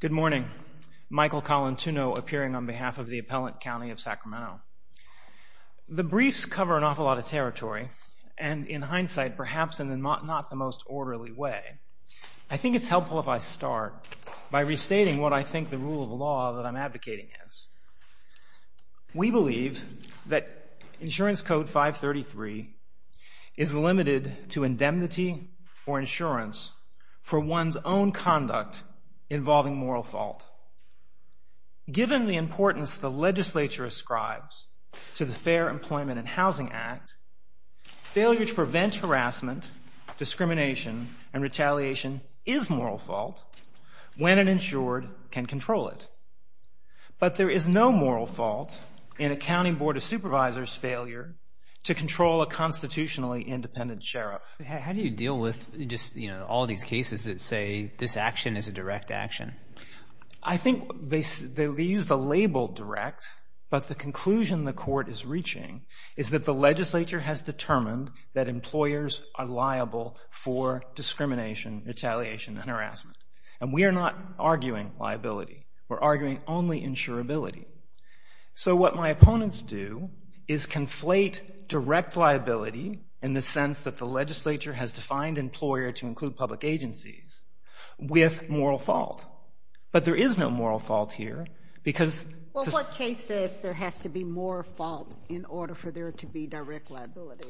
Good morning. Michael Colantuno appearing on behalf of the Appellant County of Sacramento. The briefs cover an awful lot of territory and, in hindsight, perhaps in not the most orderly way. I think it's helpful if I start by restating what I think the rule of law that I'm advocating is. We believe that Insurance Code 533 is limited to indemnity or insurance for one's own conduct involving moral fault. Given the importance the legislature ascribes to the Fair Employment and Housing Act, failure to prevent harassment, discrimination, and retaliation is moral fault when an insured can control it. But there is no moral fault in a county board of supervisors' failure to control a constitutionally independent sheriff. How do you deal with just all these cases that say this action is a direct action? I think they use the label direct, but the conclusion the court is reaching is that the legislature has determined that employers are liable for discrimination, retaliation, and harassment. And we are not arguing liability. We're arguing only insurability. So what my opponents do is conflate direct liability in the sense that the legislature has defined employer to include public agencies with moral fault. But there is no moral fault here because... Well, what case says there has to be moral fault in order for there to be direct liability?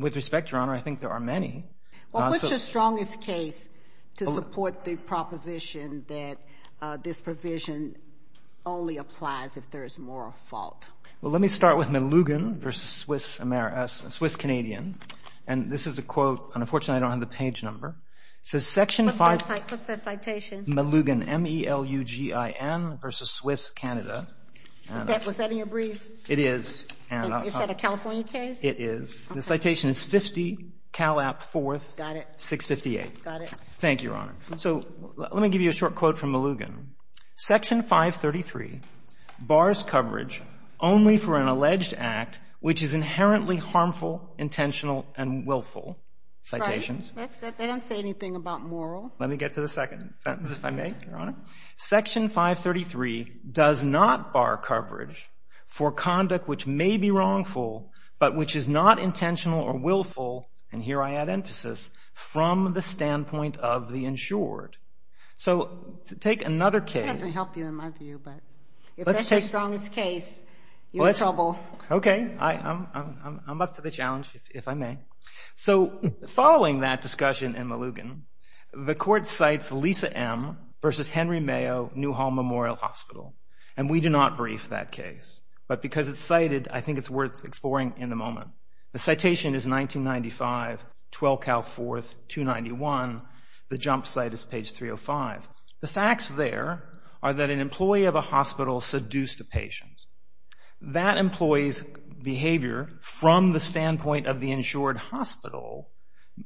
With respect, Your Honor, I think there are many. Well, what's your strongest case to support the proposition that this provision only applies if there is moral fault? Well, let me start with Malugan v. Swiss Canadian. And this is a quote. Unfortunately, I don't have the page number. It says Section 5... What's that citation? Malugan, M-E-L-U-G-I-N v. Swiss Canada. Was that in your brief? It is. Is that a California case? It is. The citation is 50 Calap 4th, 658. Got it. Thank you, Your Honor. So let me give you a short quote from Malugan. Section 533 bars coverage only for an alleged act which is inherently harmful, intentional, and willful. Right. They don't say anything about moral. Let me get to the second sentence, if I may, Your Honor. Section 533 does not bar coverage for conduct which may be wrongful but which is not intentional or willful, and here I add emphasis, from the standpoint of the insured. So take another case. That doesn't help you in my view, but if that's your strongest case, you're in trouble. Okay. I'm up to the challenge, if I may. So following that discussion in Malugan, the court cites Lisa M. v. Henry Mayo New Hall Memorial Hospital, and we do not brief that case, but because it's cited, I think it's worth exploring in a moment. The citation is 1995, 12 Cal 4th, 291. The jump site is page 305. The facts there are that an employee of a hospital seduced a patient. That employee's behavior from the standpoint of the insured hospital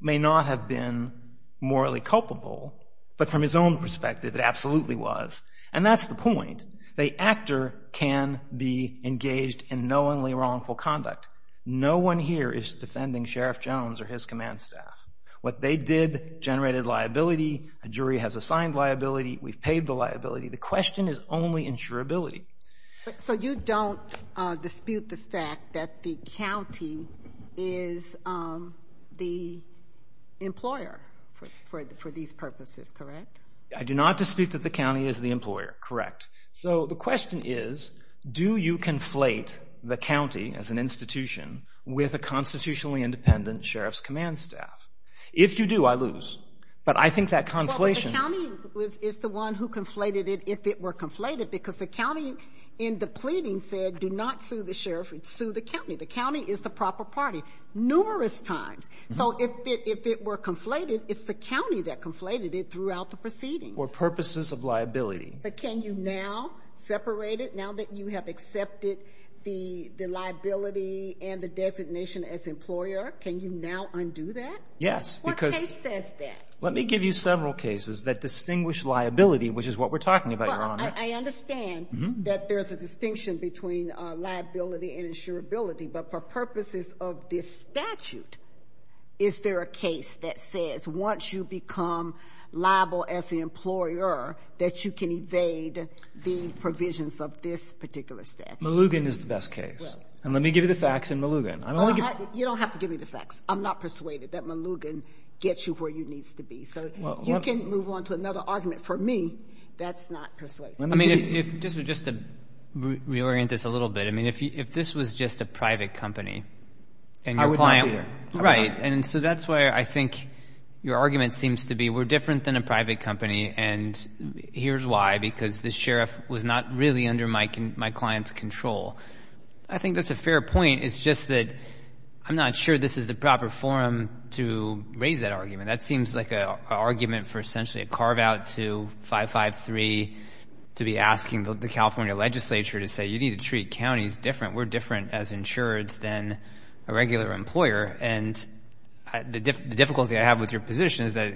may not have been morally culpable, but from his own perspective it absolutely was, and that's the point. The actor can be engaged in knowingly wrongful conduct. No one here is defending Sheriff Jones or his command staff. What they did generated liability. A jury has assigned liability. We've paid the liability. The question is only insurability. So you don't dispute the fact that the county is the employer for these purposes, correct? I do not dispute that the county is the employer, correct. So the question is, do you conflate the county as an institution with a constitutionally independent sheriff's command staff? If you do, I lose. But I think that conflation. The county is the one who conflated it if it were conflated because the county in the pleading said, do not sue the sheriff, sue the county. The county is the proper party numerous times. So if it were conflated, it's the county that conflated it throughout the proceedings. Or purposes of liability. But can you now separate it now that you have accepted the liability and the designation as employer? Can you now undo that? Yes, because. What case says that? Let me give you several cases that distinguish liability, which is what we're talking about, Your Honor. Well, I understand that there's a distinction between liability and insurability. But for purposes of this statute, is there a case that says once you become liable as the employer, that you can evade the provisions of this particular statute? Malugan is the best case. And let me give you the facts in Malugan. You don't have to give me the facts. I'm not persuaded that Malugan gets you where you need to be. So you can move on to another argument. For me, that's not persuasive. Let me just reorient this a little bit. I mean, if this was just a private company and your client. I would not be here. Right. And so that's why I think your argument seems to be we're different than a private company, and here's why, because the sheriff was not really under my client's control. I think that's a fair point. It's just that I'm not sure this is the proper forum to raise that argument. That seems like an argument for essentially a carve-out to 553 to be asking the California legislature to say, you need to treat counties different. We're different as insureds than a regular employer. And the difficulty I have with your position is that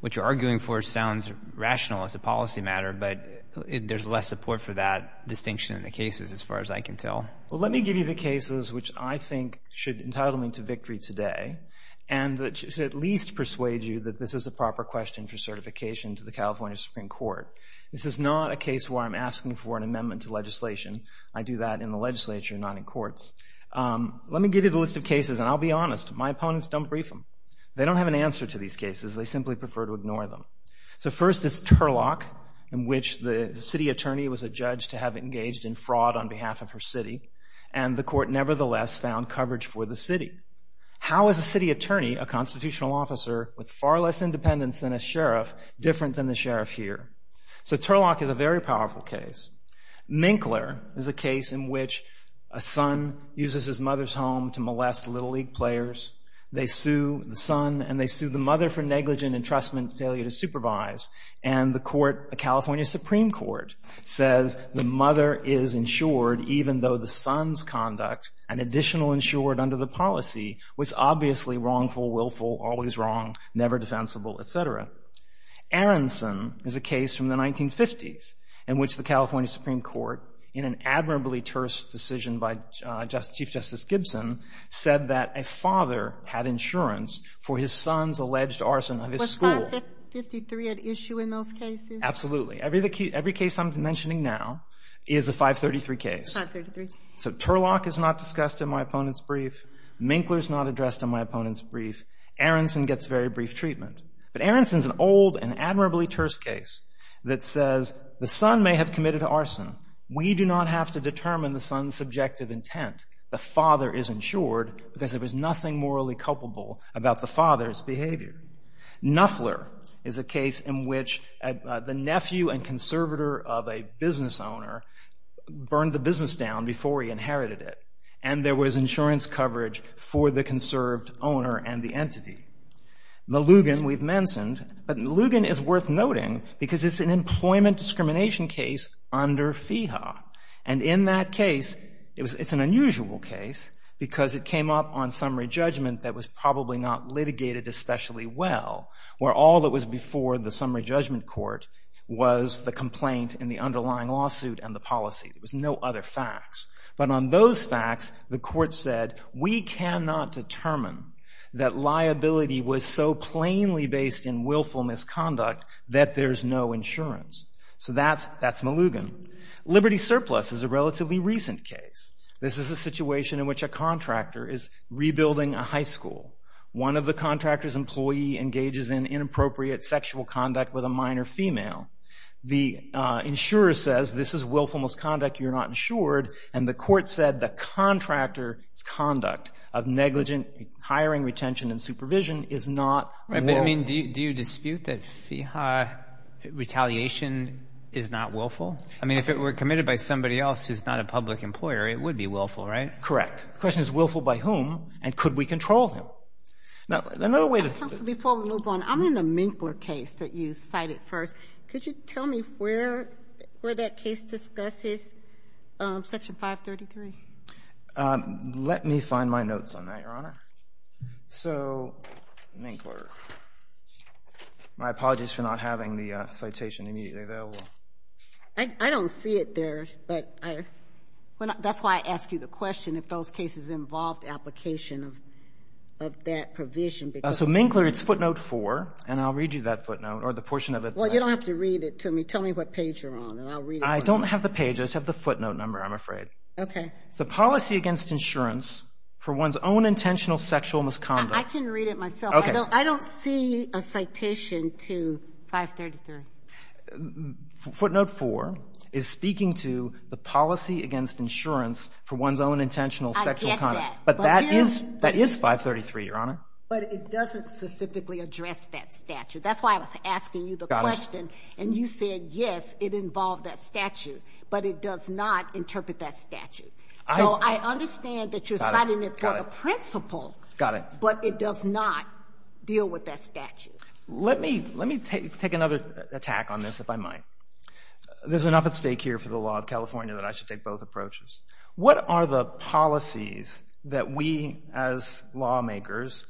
what you're arguing for sounds rational as a policy matter, but there's less support for that distinction in the cases as far as I can tell. Well, let me give you the cases which I think should entitle me to victory today and that should at least persuade you that this is a proper question for certification to the California Supreme Court. This is not a case where I'm asking for an amendment to legislation. I do that in the legislature, not in courts. Let me give you the list of cases, and I'll be honest. My opponents don't brief them. They don't have an answer to these cases. They simply prefer to ignore them. So first is Turlock, in which the city attorney was adjudged to have engaged in fraud on behalf of her city, and the court nevertheless found coverage for the city. How is a city attorney, a constitutional officer with far less independence than a sheriff, different than the sheriff here? So Turlock is a very powerful case. Minkler is a case in which a son uses his mother's home to molest Little League players. They sue the son, and they sue the mother for negligent entrustment and failure to supervise. And the court, the California Supreme Court, says the mother is insured even though the son's conduct, an additional insured under the policy, was obviously wrongful, willful, always wrong, never defensible, et cetera. Aronson is a case from the 1950s in which the California Supreme Court, in an admirably terse decision by Chief Justice Gibson, said that a father had insurance for his son's alleged arson of his school. Was 553 at issue in those cases? Absolutely. Every case I'm mentioning now is a 533 case. 533. So Turlock is not discussed in my opponent's brief. Minkler is not addressed in my opponent's brief. Aronson gets very brief treatment. But Aronson's an old and admirably terse case that says the son may have committed arson. We do not have to determine the son's subjective intent. The father is insured because there was nothing morally culpable about the father's behavior. Nuffler is a case in which the nephew and conservator of a business owner burned the business down before he inherited it, and there was insurance coverage for the conserved owner and the entity. The Lugan we've mentioned. But Lugan is worth noting because it's an employment discrimination case under FEHA. And in that case, it's an unusual case because it came up on summary judgment that was probably not litigated especially well, where all that was before the summary judgment court was the complaint in the underlying lawsuit and the policy. There was no other facts. But on those facts, the court said, we cannot determine that liability was so plainly based in willful misconduct that there's no insurance. So that's Malugan. Liberty surplus is a relatively recent case. This is a situation in which a contractor is rebuilding a high school. One of the contractor's employee engages in inappropriate sexual conduct with a minor female. The insurer says this is willful misconduct. You're not insured. And the court said the contractor's conduct of negligent hiring, retention, and supervision is not willful. Do you dispute that FEHA retaliation is not willful? I mean, if it were committed by somebody else who's not a public employer, it would be willful, right? Correct. The question is willful by whom, and could we control him? Counsel, before we move on, I'm in the Minkler case that you cited first. Could you tell me where that case discusses Section 533? Let me find my notes on that, Your Honor. So Minkler. My apologies for not having the citation immediately available. I don't see it there. That's why I asked you the question if those cases involved application of that provision. So Minkler, it's footnote 4, and I'll read you that footnote or the portion of it. Well, you don't have to read it to me. Tell me what page you're on, and I'll read it to you. I don't have the page. I just have the footnote number, I'm afraid. Okay. It's a policy against insurance for one's own intentional sexual misconduct. I can read it myself. Okay. I don't see a citation to 533. Footnote 4 is speaking to the policy against insurance for one's own intentional sexual conduct. I get that. But that is 533, Your Honor. But it doesn't specifically address that statute. That's why I was asking you the question. And you said, yes, it involved that statute, but it does not interpret that statute. So I understand that you're citing it for the principle. Got it. But it does not deal with that statute. Let me take another attack on this, if I might. There's enough at stake here for the law of California that I should take both approaches. What are the policies that we as lawmakers,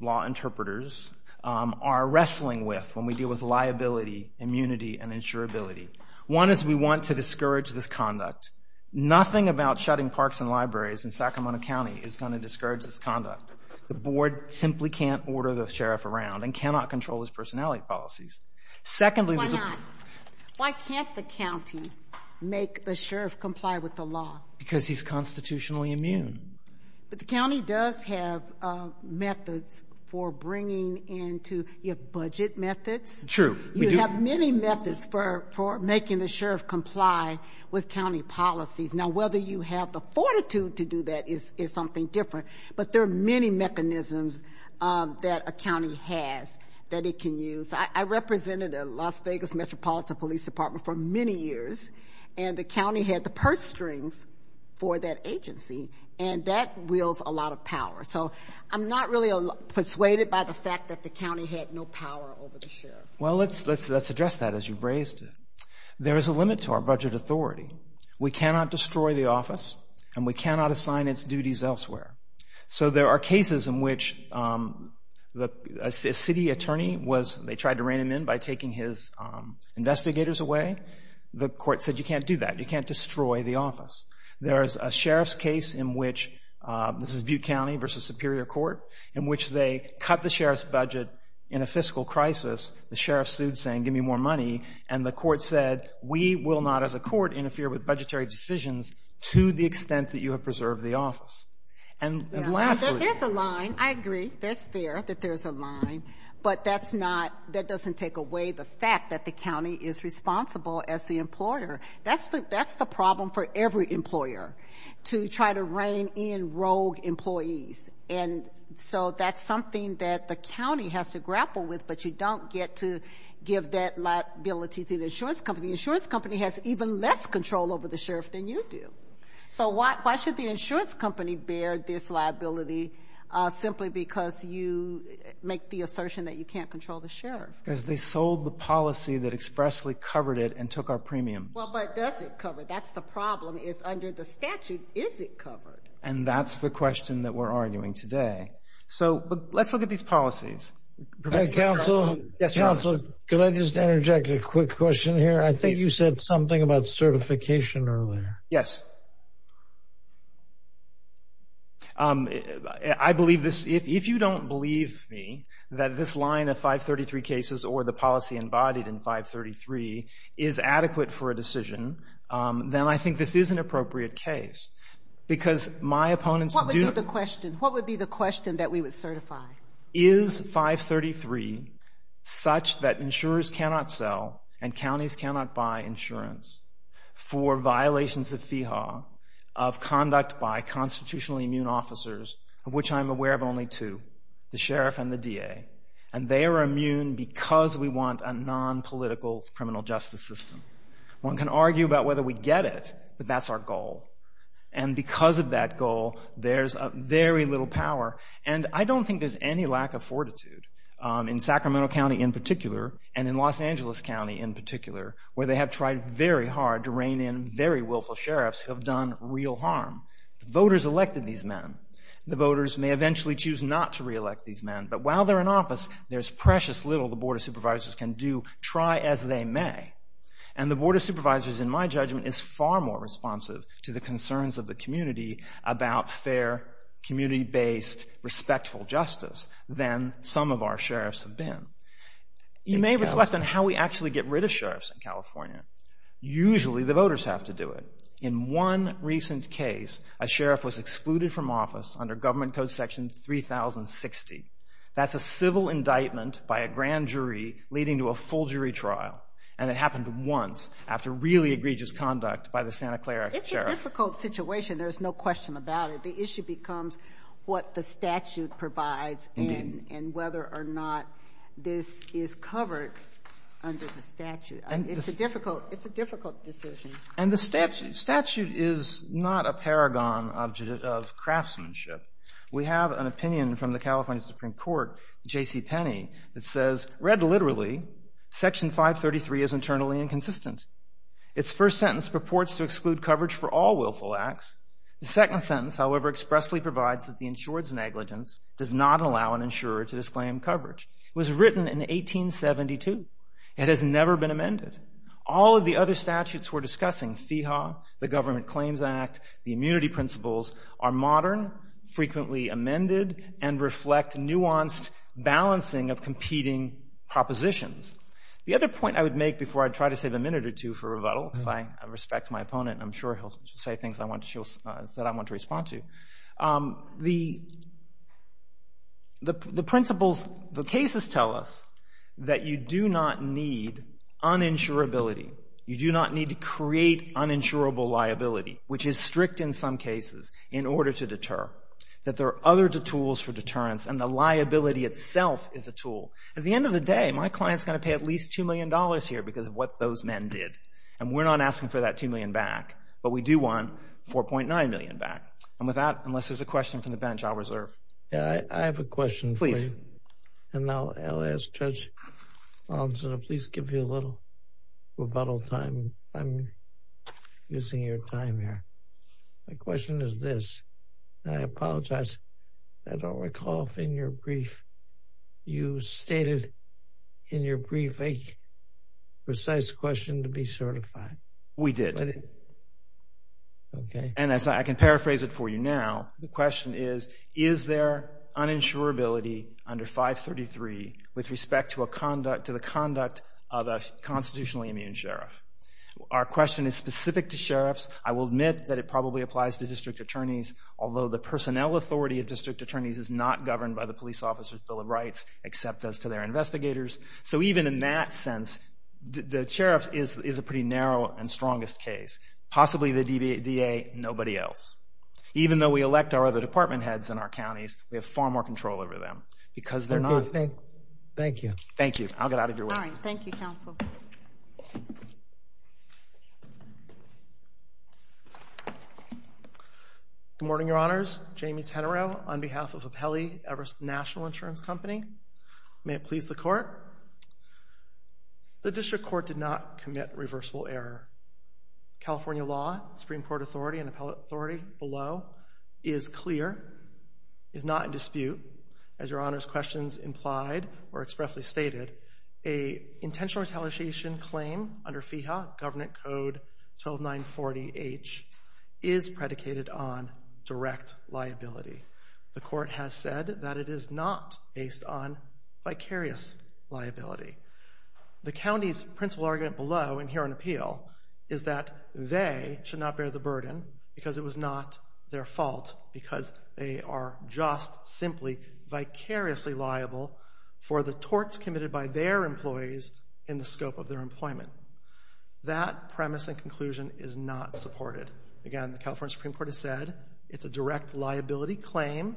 law interpreters, are wrestling with when we deal with liability, immunity, and insurability? One is we want to discourage this conduct. Nothing about shutting parks and libraries in Sacramento County is going to discourage this conduct. The board simply can't order the sheriff around and cannot control his personality policies. Secondly, there's a ---- Why not? Why can't the county make the sheriff comply with the law? Because he's constitutionally immune. But the county does have methods for bringing into your budget methods. True. We do. You have many methods for making the sheriff comply with county policies. Now, whether you have the fortitude to do that is something different. But there are many mechanisms that a county has that it can use. I represented a Las Vegas Metropolitan Police Department for many years, and the county had the purse strings for that agency, and that wields a lot of power. So I'm not really persuaded by the fact that the county had no power over the sheriff. Well, let's address that as you've raised it. There is a limit to our budget authority. We cannot destroy the office, and we cannot assign its duties elsewhere. So there are cases in which a city attorney was ---- they tried to rein him in by taking his investigators away. The court said, You can't do that. You can't destroy the office. There is a sheriff's case in which ---- this is Butte County versus Superior Court ---- in which they cut the sheriff's budget in a fiscal crisis. The sheriff sued saying, Give me more money. And the court said, We will not, as a court, interfere with budgetary decisions to the extent that you have preserved the office. And lastly ---- There's a line. I agree. It's fair that there's a line. But that doesn't take away the fact that the county is responsible as the employer. That's the problem for every employer, to try to rein in rogue employees. And so that's something that the county has to grapple with, but you don't get to give that liability to the insurance company. The insurance company has even less control over the sheriff than you do. So why should the insurance company bear this liability simply because you make the assertion that you can't control the sheriff? Because they sold the policy that expressly covered it and took our premiums. Well, but does it cover it? That's the problem, is under the statute, is it covered? And that's the question that we're arguing today. So let's look at these policies. Council, could I just interject a quick question here? I think you said something about certification earlier. Yes. I believe this. If you don't believe me that this line of 533 cases or the policy embodied in 533 is adequate for a decision, then I think this is an appropriate case because my opponents do ---- What would be the question? What would be the question that we would certify? Is 533 such that insurers cannot sell and counties cannot buy insurance for violations of FEHA, of conduct by constitutionally immune officers, of which I'm aware of only two, the sheriff and the DA, and they are immune because we want a nonpolitical criminal justice system. One can argue about whether we get it, but that's our goal. And because of that goal, there's very little power. And I don't think there's any lack of fortitude, in Sacramento County in particular and in Los Angeles County in particular, where they have tried very hard to rein in very willful sheriffs who have done real harm. Voters elected these men. The voters may eventually choose not to reelect these men, but while they're in office, there's precious little the Board of Supervisors can do, try as they may. And the Board of Supervisors, in my judgment, is far more responsive to the concerns of the community about fair, community-based, respectful justice than some of our sheriffs have been. You may reflect on how we actually get rid of sheriffs in California. Usually the voters have to do it. In one recent case, a sheriff was excluded from office under Government Code Section 3060. That's a civil indictment by a grand jury leading to a full jury trial, and it happened once after really egregious conduct by the Santa Clara sheriff. It's a difficult situation. There's no question about it. The issue becomes what the statute provides. Indeed. And whether or not this is covered under the statute. It's a difficult decision. And the statute is not a paragon of craftsmanship. We have an opinion from the California Supreme Court, J.C. Penney, that says, read literally, Section 533 is internally inconsistent. Its first sentence purports to exclude coverage for all willful acts. The second sentence, however, expressly provides that the insured's negligence does not allow an insurer to disclaim coverage. It was written in 1872. It has never been amended. All of the other statutes we're discussing, FEHA, the Government Claims Act, the immunity principles, are modern, frequently amended, and reflect nuanced balancing of competing propositions. The other point I would make before I try to save a minute or two for rebuttal, because I respect my opponent, and I'm sure he'll say things that I want to respond to. The principles, the cases tell us that you do not need uninsurability. You do not need to create uninsurable liability, which is strict in some cases, in order to deter. That there are other tools for deterrence, and the liability itself is a tool. At the end of the day, my client's going to pay at least $2 million here because of what those men did, and we're not asking for that $2 million back, but we do want $4.9 million back. And with that, unless there's a question from the bench, I'll reserve. I have a question. Please. And I'll ask Judge Altshuler to please give you a little rebuttal time. I'm using your time here. My question is this. I apologize. I don't recall if in your brief you stated in your brief a precise question to be certified. We did. And I can paraphrase it for you now. The question is, is there uninsurability under 533 with respect to the conduct of a constitutionally immune sheriff? Our question is specific to sheriffs. I will admit that it probably applies to district attorneys, although the personnel authority of district attorneys is not governed by the police officer's Bill of Rights, except as to their investigators. So even in that sense, the sheriff is a pretty narrow and strongest case. Possibly the DA, nobody else. Even though we elect our other department heads in our counties, we have far more control over them because they're not. Thank you. Thank you. I'll get out of your way. All right. Thank you, counsel. Good morning, Your Honors. Jamie Tenereau on behalf of Appellee Everest National Insurance Company. May it please the Court. The district court did not commit reversible error. California law, Supreme Court authority and appellate authority below is clear, is not in dispute, as Your Honors' questions implied or expressly stated, a intentional retaliation claim under FEHA, Government Code 12940H, is predicated on direct liability. The Court has said that it is not based on vicarious liability. The county's principal argument below and here on appeal is that they should not bear the burden because it was not their fault because they are just simply vicariously liable for the torts committed by their employees in the scope of their employment. That premise and conclusion is not supported. Again, the California Supreme Court has said it's a direct liability claim.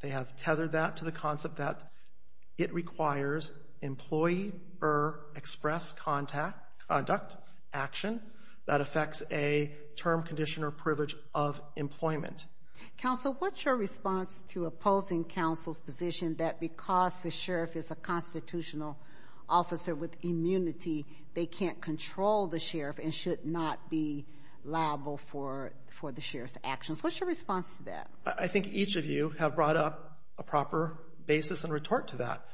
They have tethered that to the concept that it requires employee or express conduct, action, that affects a term, condition, or privilege of employment. Counsel, what's your response to opposing counsel's position that because the sheriff is a constitutional officer with immunity, they can't control the sheriff and should not be liable for the sheriff's actions? What's your response to that? I think each of you have brought up a proper basis and retort to that.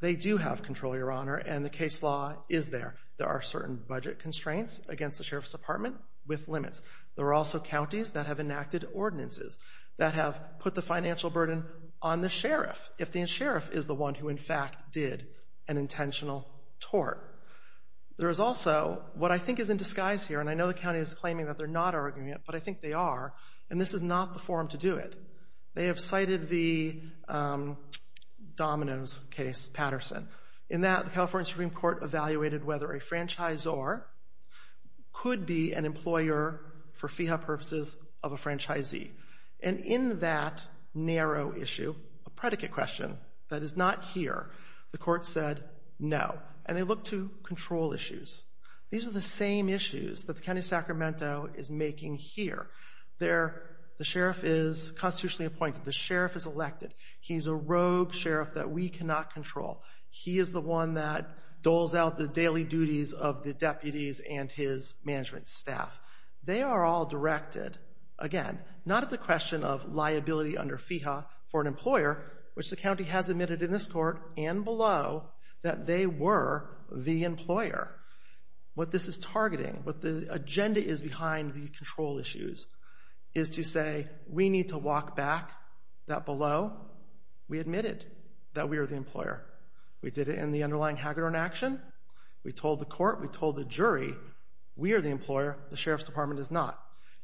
They do have control, Your Honor, and the case law is there. There are certain budget constraints against the sheriff's department with limits. There are also counties that have enacted ordinances that have put the financial burden on the sheriff if the sheriff is the one who in fact did an intentional tort. There is also what I think is in disguise here, and I know the county is claiming that they're not arguing it, but I think they are, and this is not the forum to do it. They have cited the Domino's case, Patterson. In that, the California Supreme Court evaluated whether a franchisor could be an employer for FEHA purposes of a franchisee, and in that narrow issue, a predicate question that is not here, the court said no, and they looked to control issues. These are the same issues that the county of Sacramento is making here. The sheriff is constitutionally appointed. The sheriff is elected. He's a rogue sheriff that we cannot control. He is the one that doles out the daily duties of the deputies and his management staff. They are all directed, again, not at the question of liability under FEHA for an employer, which the county has admitted in this court and below that they were the employer. What this is targeting, what the agenda is behind the control issues is to say we need to walk back that below we admitted that we are the employer. We did it in the underlying Hagedorn action. We told the court. We told the jury we are the employer. The sheriff's department is not.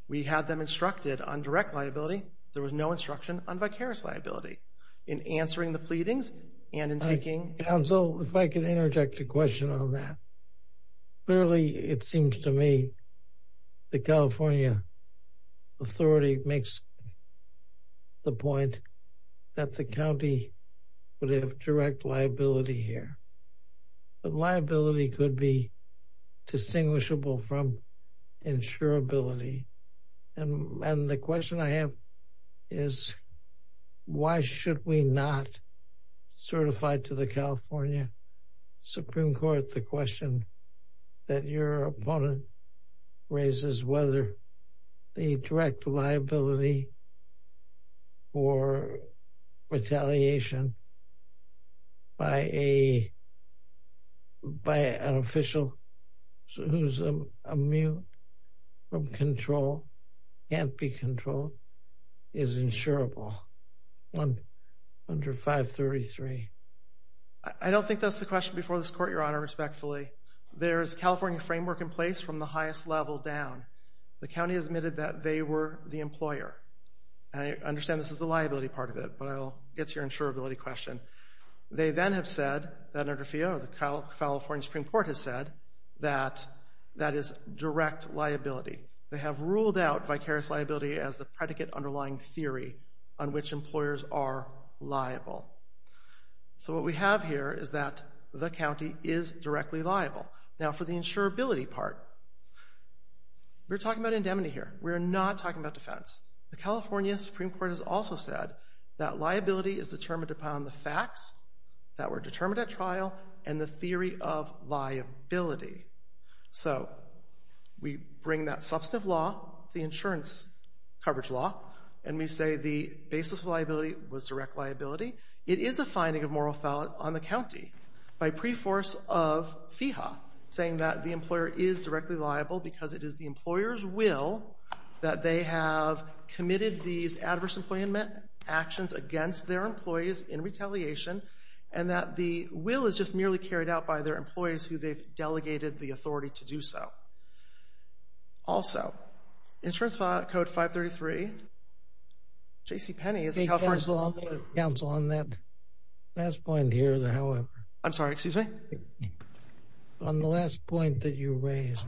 We had them instructed on direct liability. There was no instruction on vicarious liability in answering the pleadings and in taking counsel. If I could interject a question on that. Clearly, it seems to me the California authority makes the point that the county would have direct liability here. But liability could be distinguishable from insurability. And the question I have is why should we not certify to the California Supreme Court the question that your opponent raises whether the direct liability for retaliation by an official who is immune from control, can't be controlled, is insurable under 533? I don't think that's the question before this court, Your Honor, respectfully. There is California framework in place from the highest level down. The county has admitted that they were the employer. I understand this is the liability part of it, but I'll get to your insurability question. They then have said that under FEO, the California Supreme Court has said that that is direct liability. They have ruled out vicarious liability as the predicate underlying theory on which employers are liable. So what we have here is that the county is directly liable. Now for the insurability part, we're talking about indemnity here. We're not talking about defense. The California Supreme Court has also said that liability is determined upon the facts that were determined at trial and the theory of liability. So we bring that substantive law, the insurance coverage law, and we say the basis of liability was direct liability. It is a finding of moral fault on the county by preforce of FEHA, saying that the employer is directly liable because it is the employer's will that they have committed these adverse employment actions against their employees in retaliation and that the will is just merely carried out by their employees who they've delegated the authority to do so. Also, insurance code 533, JCPenney is a California Supreme Court rule. Counsel, on that last point here, however. I'm sorry, excuse me? On the last point that you raised,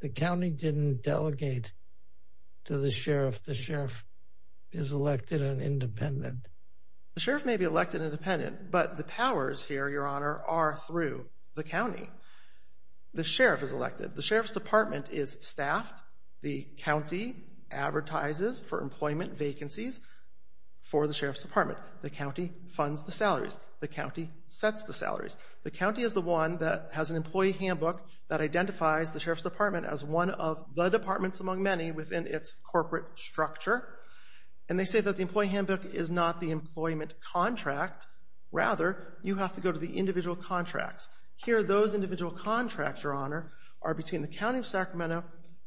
the county didn't delegate to the sheriff. The sheriff is elected and independent. The sheriff may be elected and independent, but the powers here, Your Honor, are through the county. The sheriff is elected. The sheriff's department is staffed. The county advertises for employment vacancies for the sheriff's department. The county funds the salaries. The county sets the salaries. The county is the one that has an employee handbook that identifies the sheriff's department as one of the departments among many within its corporate structure, and they say that the employee handbook is not the employment contract. Rather, you have to go to the individual contracts. Here, those individual contracts, Your Honor, are between the county of Sacramento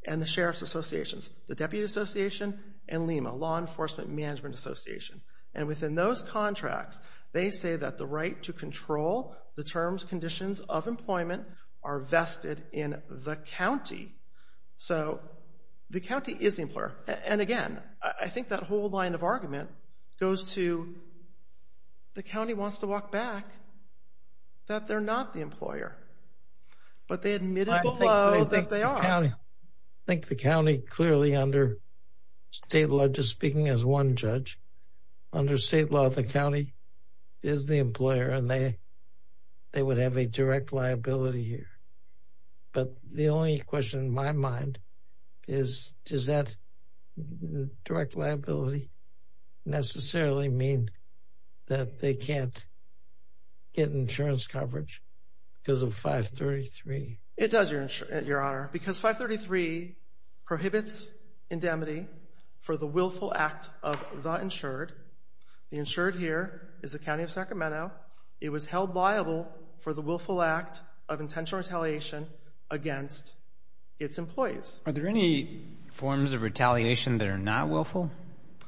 and the sheriff's associations, the Deputy Association and LEMA, Law Enforcement Management Association. And within those contracts, they say that the right to control the terms, conditions, of employment are vested in the county. So the county is the employer. And again, I think that whole line of argument goes to the county wants to walk back that they're not the employer, but they admitted below that they are. I think the county clearly under state law, just speaking as one judge, under state law the county is the employer, and they would have a direct liability here. But the only question in my mind is does that direct liability necessarily mean that they can't get insurance coverage because of 533? It does, Your Honor, because 533 prohibits indemnity for the willful act of the insured. The insured here is the county of Sacramento. It was held liable for the willful act of intentional retaliation against its employees. Are there any forms of retaliation that are not willful?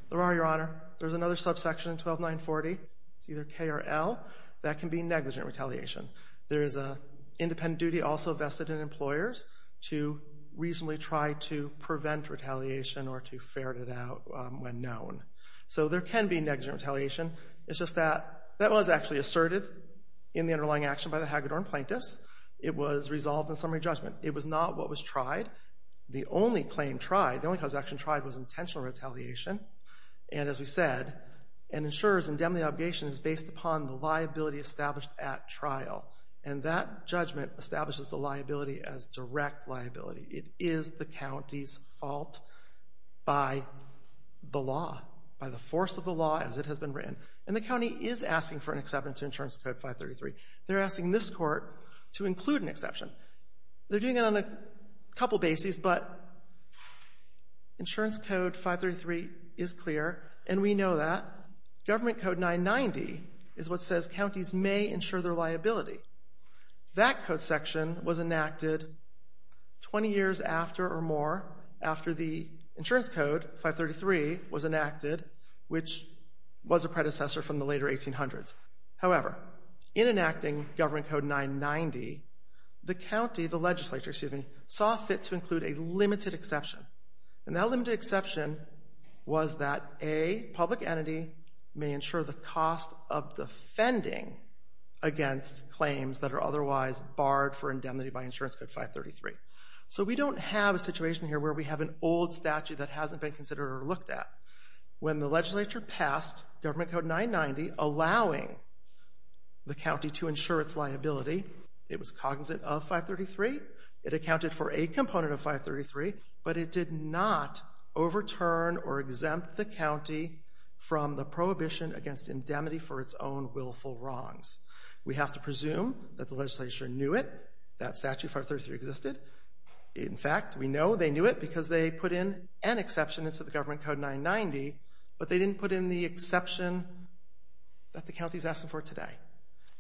There are, Your Honor. There's another subsection in 12940. It's either K or L. That can be negligent retaliation. There is an independent duty also vested in employers to reasonably try to prevent retaliation or to ferret it out when known. So there can be negligent retaliation. It's just that that was actually asserted in the underlying action by the Hagedorn plaintiffs. It was resolved in summary judgment. It was not what was tried. The only claim tried, the only cause of action tried, was intentional retaliation. And as we said, an insurer's indemnity obligation is based upon the liability established at trial. And that judgment establishes the liability as direct liability. It is the county's fault by the law, by the force of the law as it has been written. And the county is asking for an exception to Insurance Code 533. They're asking this court to include an exception. They're doing it on a couple bases, but Insurance Code 533 is clear, and we know that. Government Code 990 is what says counties may insure their liability. That code section was enacted 20 years after or more after the Insurance Code 533 was enacted, which was a predecessor from the later 1800s. However, in enacting Government Code 990, the county, the legislature, excuse me, saw fit to include a limited exception. And that limited exception was that a public entity may insure the cost of defending against claims that are otherwise barred for indemnity by Insurance Code 533. So we don't have a situation here where we have an old statute that hasn't been considered or looked at. When the legislature passed Government Code 990 allowing the county to insure its liability, it was cognizant of 533. It accounted for a component of 533, but it did not overturn or exempt the county from the prohibition against indemnity for its own willful wrongs. We have to presume that the legislature knew it, that Statute 533 existed. In fact, we know they knew it because they put in an exception into the Government Code 990, but they didn't put in the exception that the county is asking for today.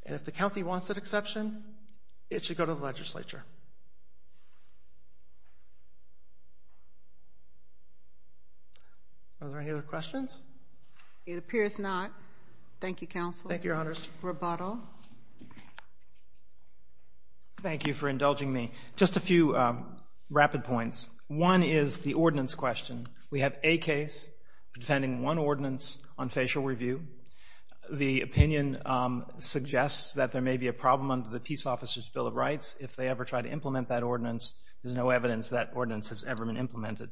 And if the county wants that exception, it should go to the legislature. Are there any other questions? It appears not. Thank you, Counsel. Thank you, Your Honors. Rebuttal. Thank you for indulging me. Just a few rapid points. One is the ordinance question. We have a case defending one ordinance on facial review. The opinion suggests that there may be a problem under the Peace Officer's Bill of Rights. If they ever try to implement that ordinance, there's no evidence that ordinance has ever been implemented.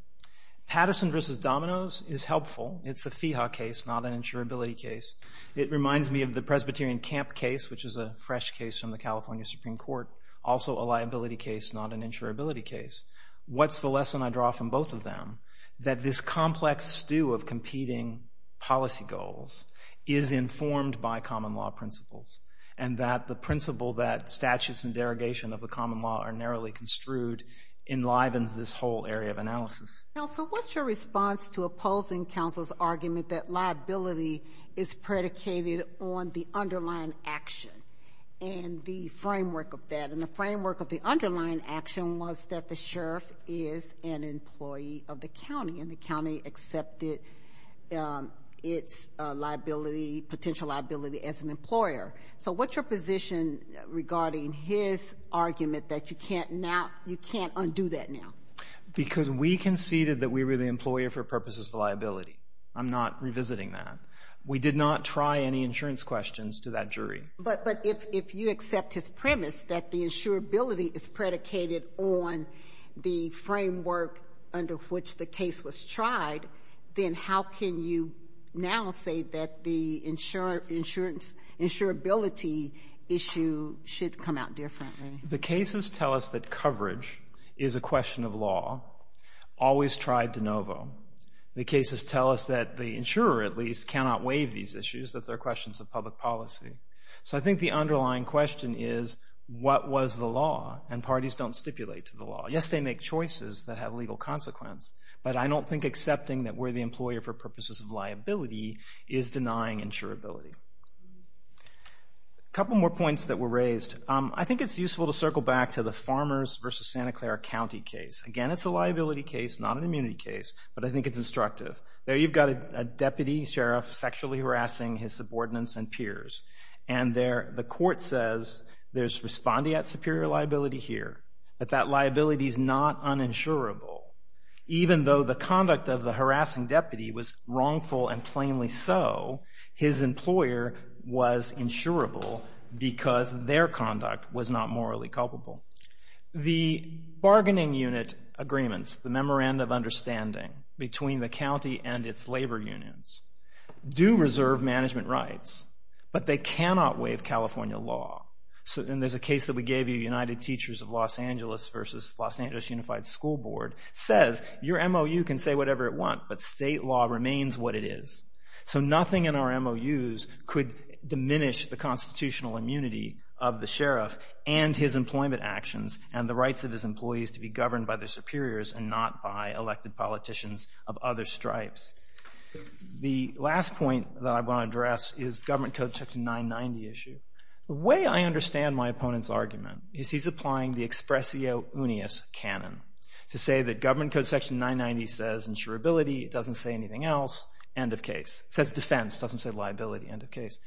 Patterson v. Domino's is helpful. It's a FEHA case, not an insurability case. It reminds me of the Presbyterian Camp case, which is a fresh case from the California Supreme Court, also a liability case, not an insurability case. What's the lesson I draw from both of them? That this complex stew of competing policy goals is informed by common law principles, and that the principle that statutes and derogation of the common law are narrowly construed enlivens this whole area of analysis. Counsel, what's your response to opposing counsel's argument that liability is predicated on the underlying action and the framework of that? The claim was that the sheriff is an employee of the county, and the county accepted its liability, potential liability, as an employer. So what's your position regarding his argument that you can't undo that now? Because we conceded that we were the employer for purposes of liability. I'm not revisiting that. We did not try any insurance questions to that jury. But if you accept his premise that the insurability is predicated on the framework under which the case was tried, then how can you now say that the insurability issue should come out differently? The cases tell us that coverage is a question of law, always tried de novo. The cases tell us that the insurer, at least, cannot waive these issues, that they're questions of public policy. So I think the underlying question is, what was the law? And parties don't stipulate to the law. Yes, they make choices that have legal consequence, but I don't think accepting that we're the employer for purposes of liability is denying insurability. A couple more points that were raised. I think it's useful to circle back to the Farmers v. Santa Clara County case. Again, it's a liability case, not an immunity case, but I think it's instructive. There you've got a deputy sheriff sexually harassing his subordinates and peers, and the court says there's respondeat superior liability here, that that liability is not uninsurable. Even though the conduct of the harassing deputy was wrongful and plainly so, his employer was insurable because their conduct was not morally culpable. The bargaining unit agreements, the memorandum of understanding between the county and its labor unions, do reserve management rights, but they cannot waive California law. And there's a case that we gave you, United Teachers of Los Angeles v. Los Angeles Unified School Board, says your MOU can say whatever it wants, but state law remains what it is. So nothing in our MOUs could diminish the constitutional immunity of the sheriff and his employment actions and the rights of his employees to be governed by their superiors and not by elected politicians of other stripes. The last point that I want to address is government code section 990 issue. The way I understand my opponent's argument is he's applying the expressio unius canon to say that government code section 990 says insurability. It doesn't say anything else. End of case. It says defense. It doesn't say liability. End of case.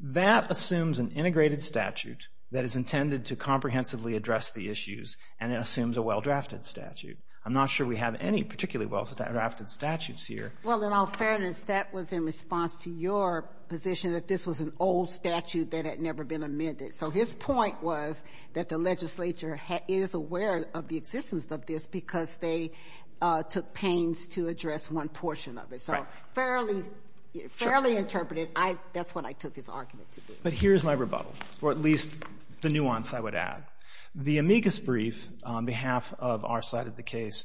That assumes an integrated statute that is intended to comprehensively address the issues, and it assumes a well-drafted statute. I'm not sure we have any particularly well-drafted statutes here. Well, in all fairness, that was in response to your position that this was an old statute that had never been amended. So his point was that the legislature is aware of the existence of this because they took pains to address one portion of it. So fairly interpreted. That's what I took his argument to be. But here's my rebuttal, or at least the nuance I would add. The amicus brief on behalf of our side of the case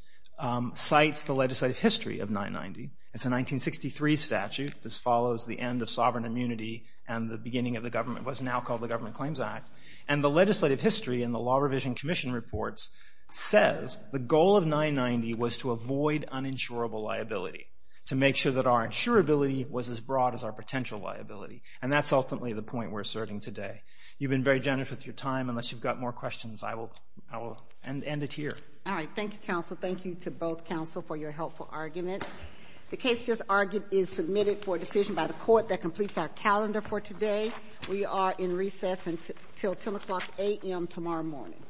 cites the legislative history of 990. It's a 1963 statute that follows the end of sovereign immunity and the beginning of the government, what's now called the Government Claims Act. And the legislative history in the Law Revision Commission reports says the goal of 990 was to avoid uninsurable liability, to make sure that our insurability was as broad as our potential liability. And that's ultimately the point we're asserting today. You've been very generous with your time. Unless you've got more questions, I will end it here. All right. Thank you, counsel. Thank you to both counsel for your helpful arguments. The case just argued is submitted for decision by the court that completes our calendar for today. We are in recess until 10 o'clock a.m. tomorrow morning.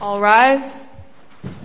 All rise.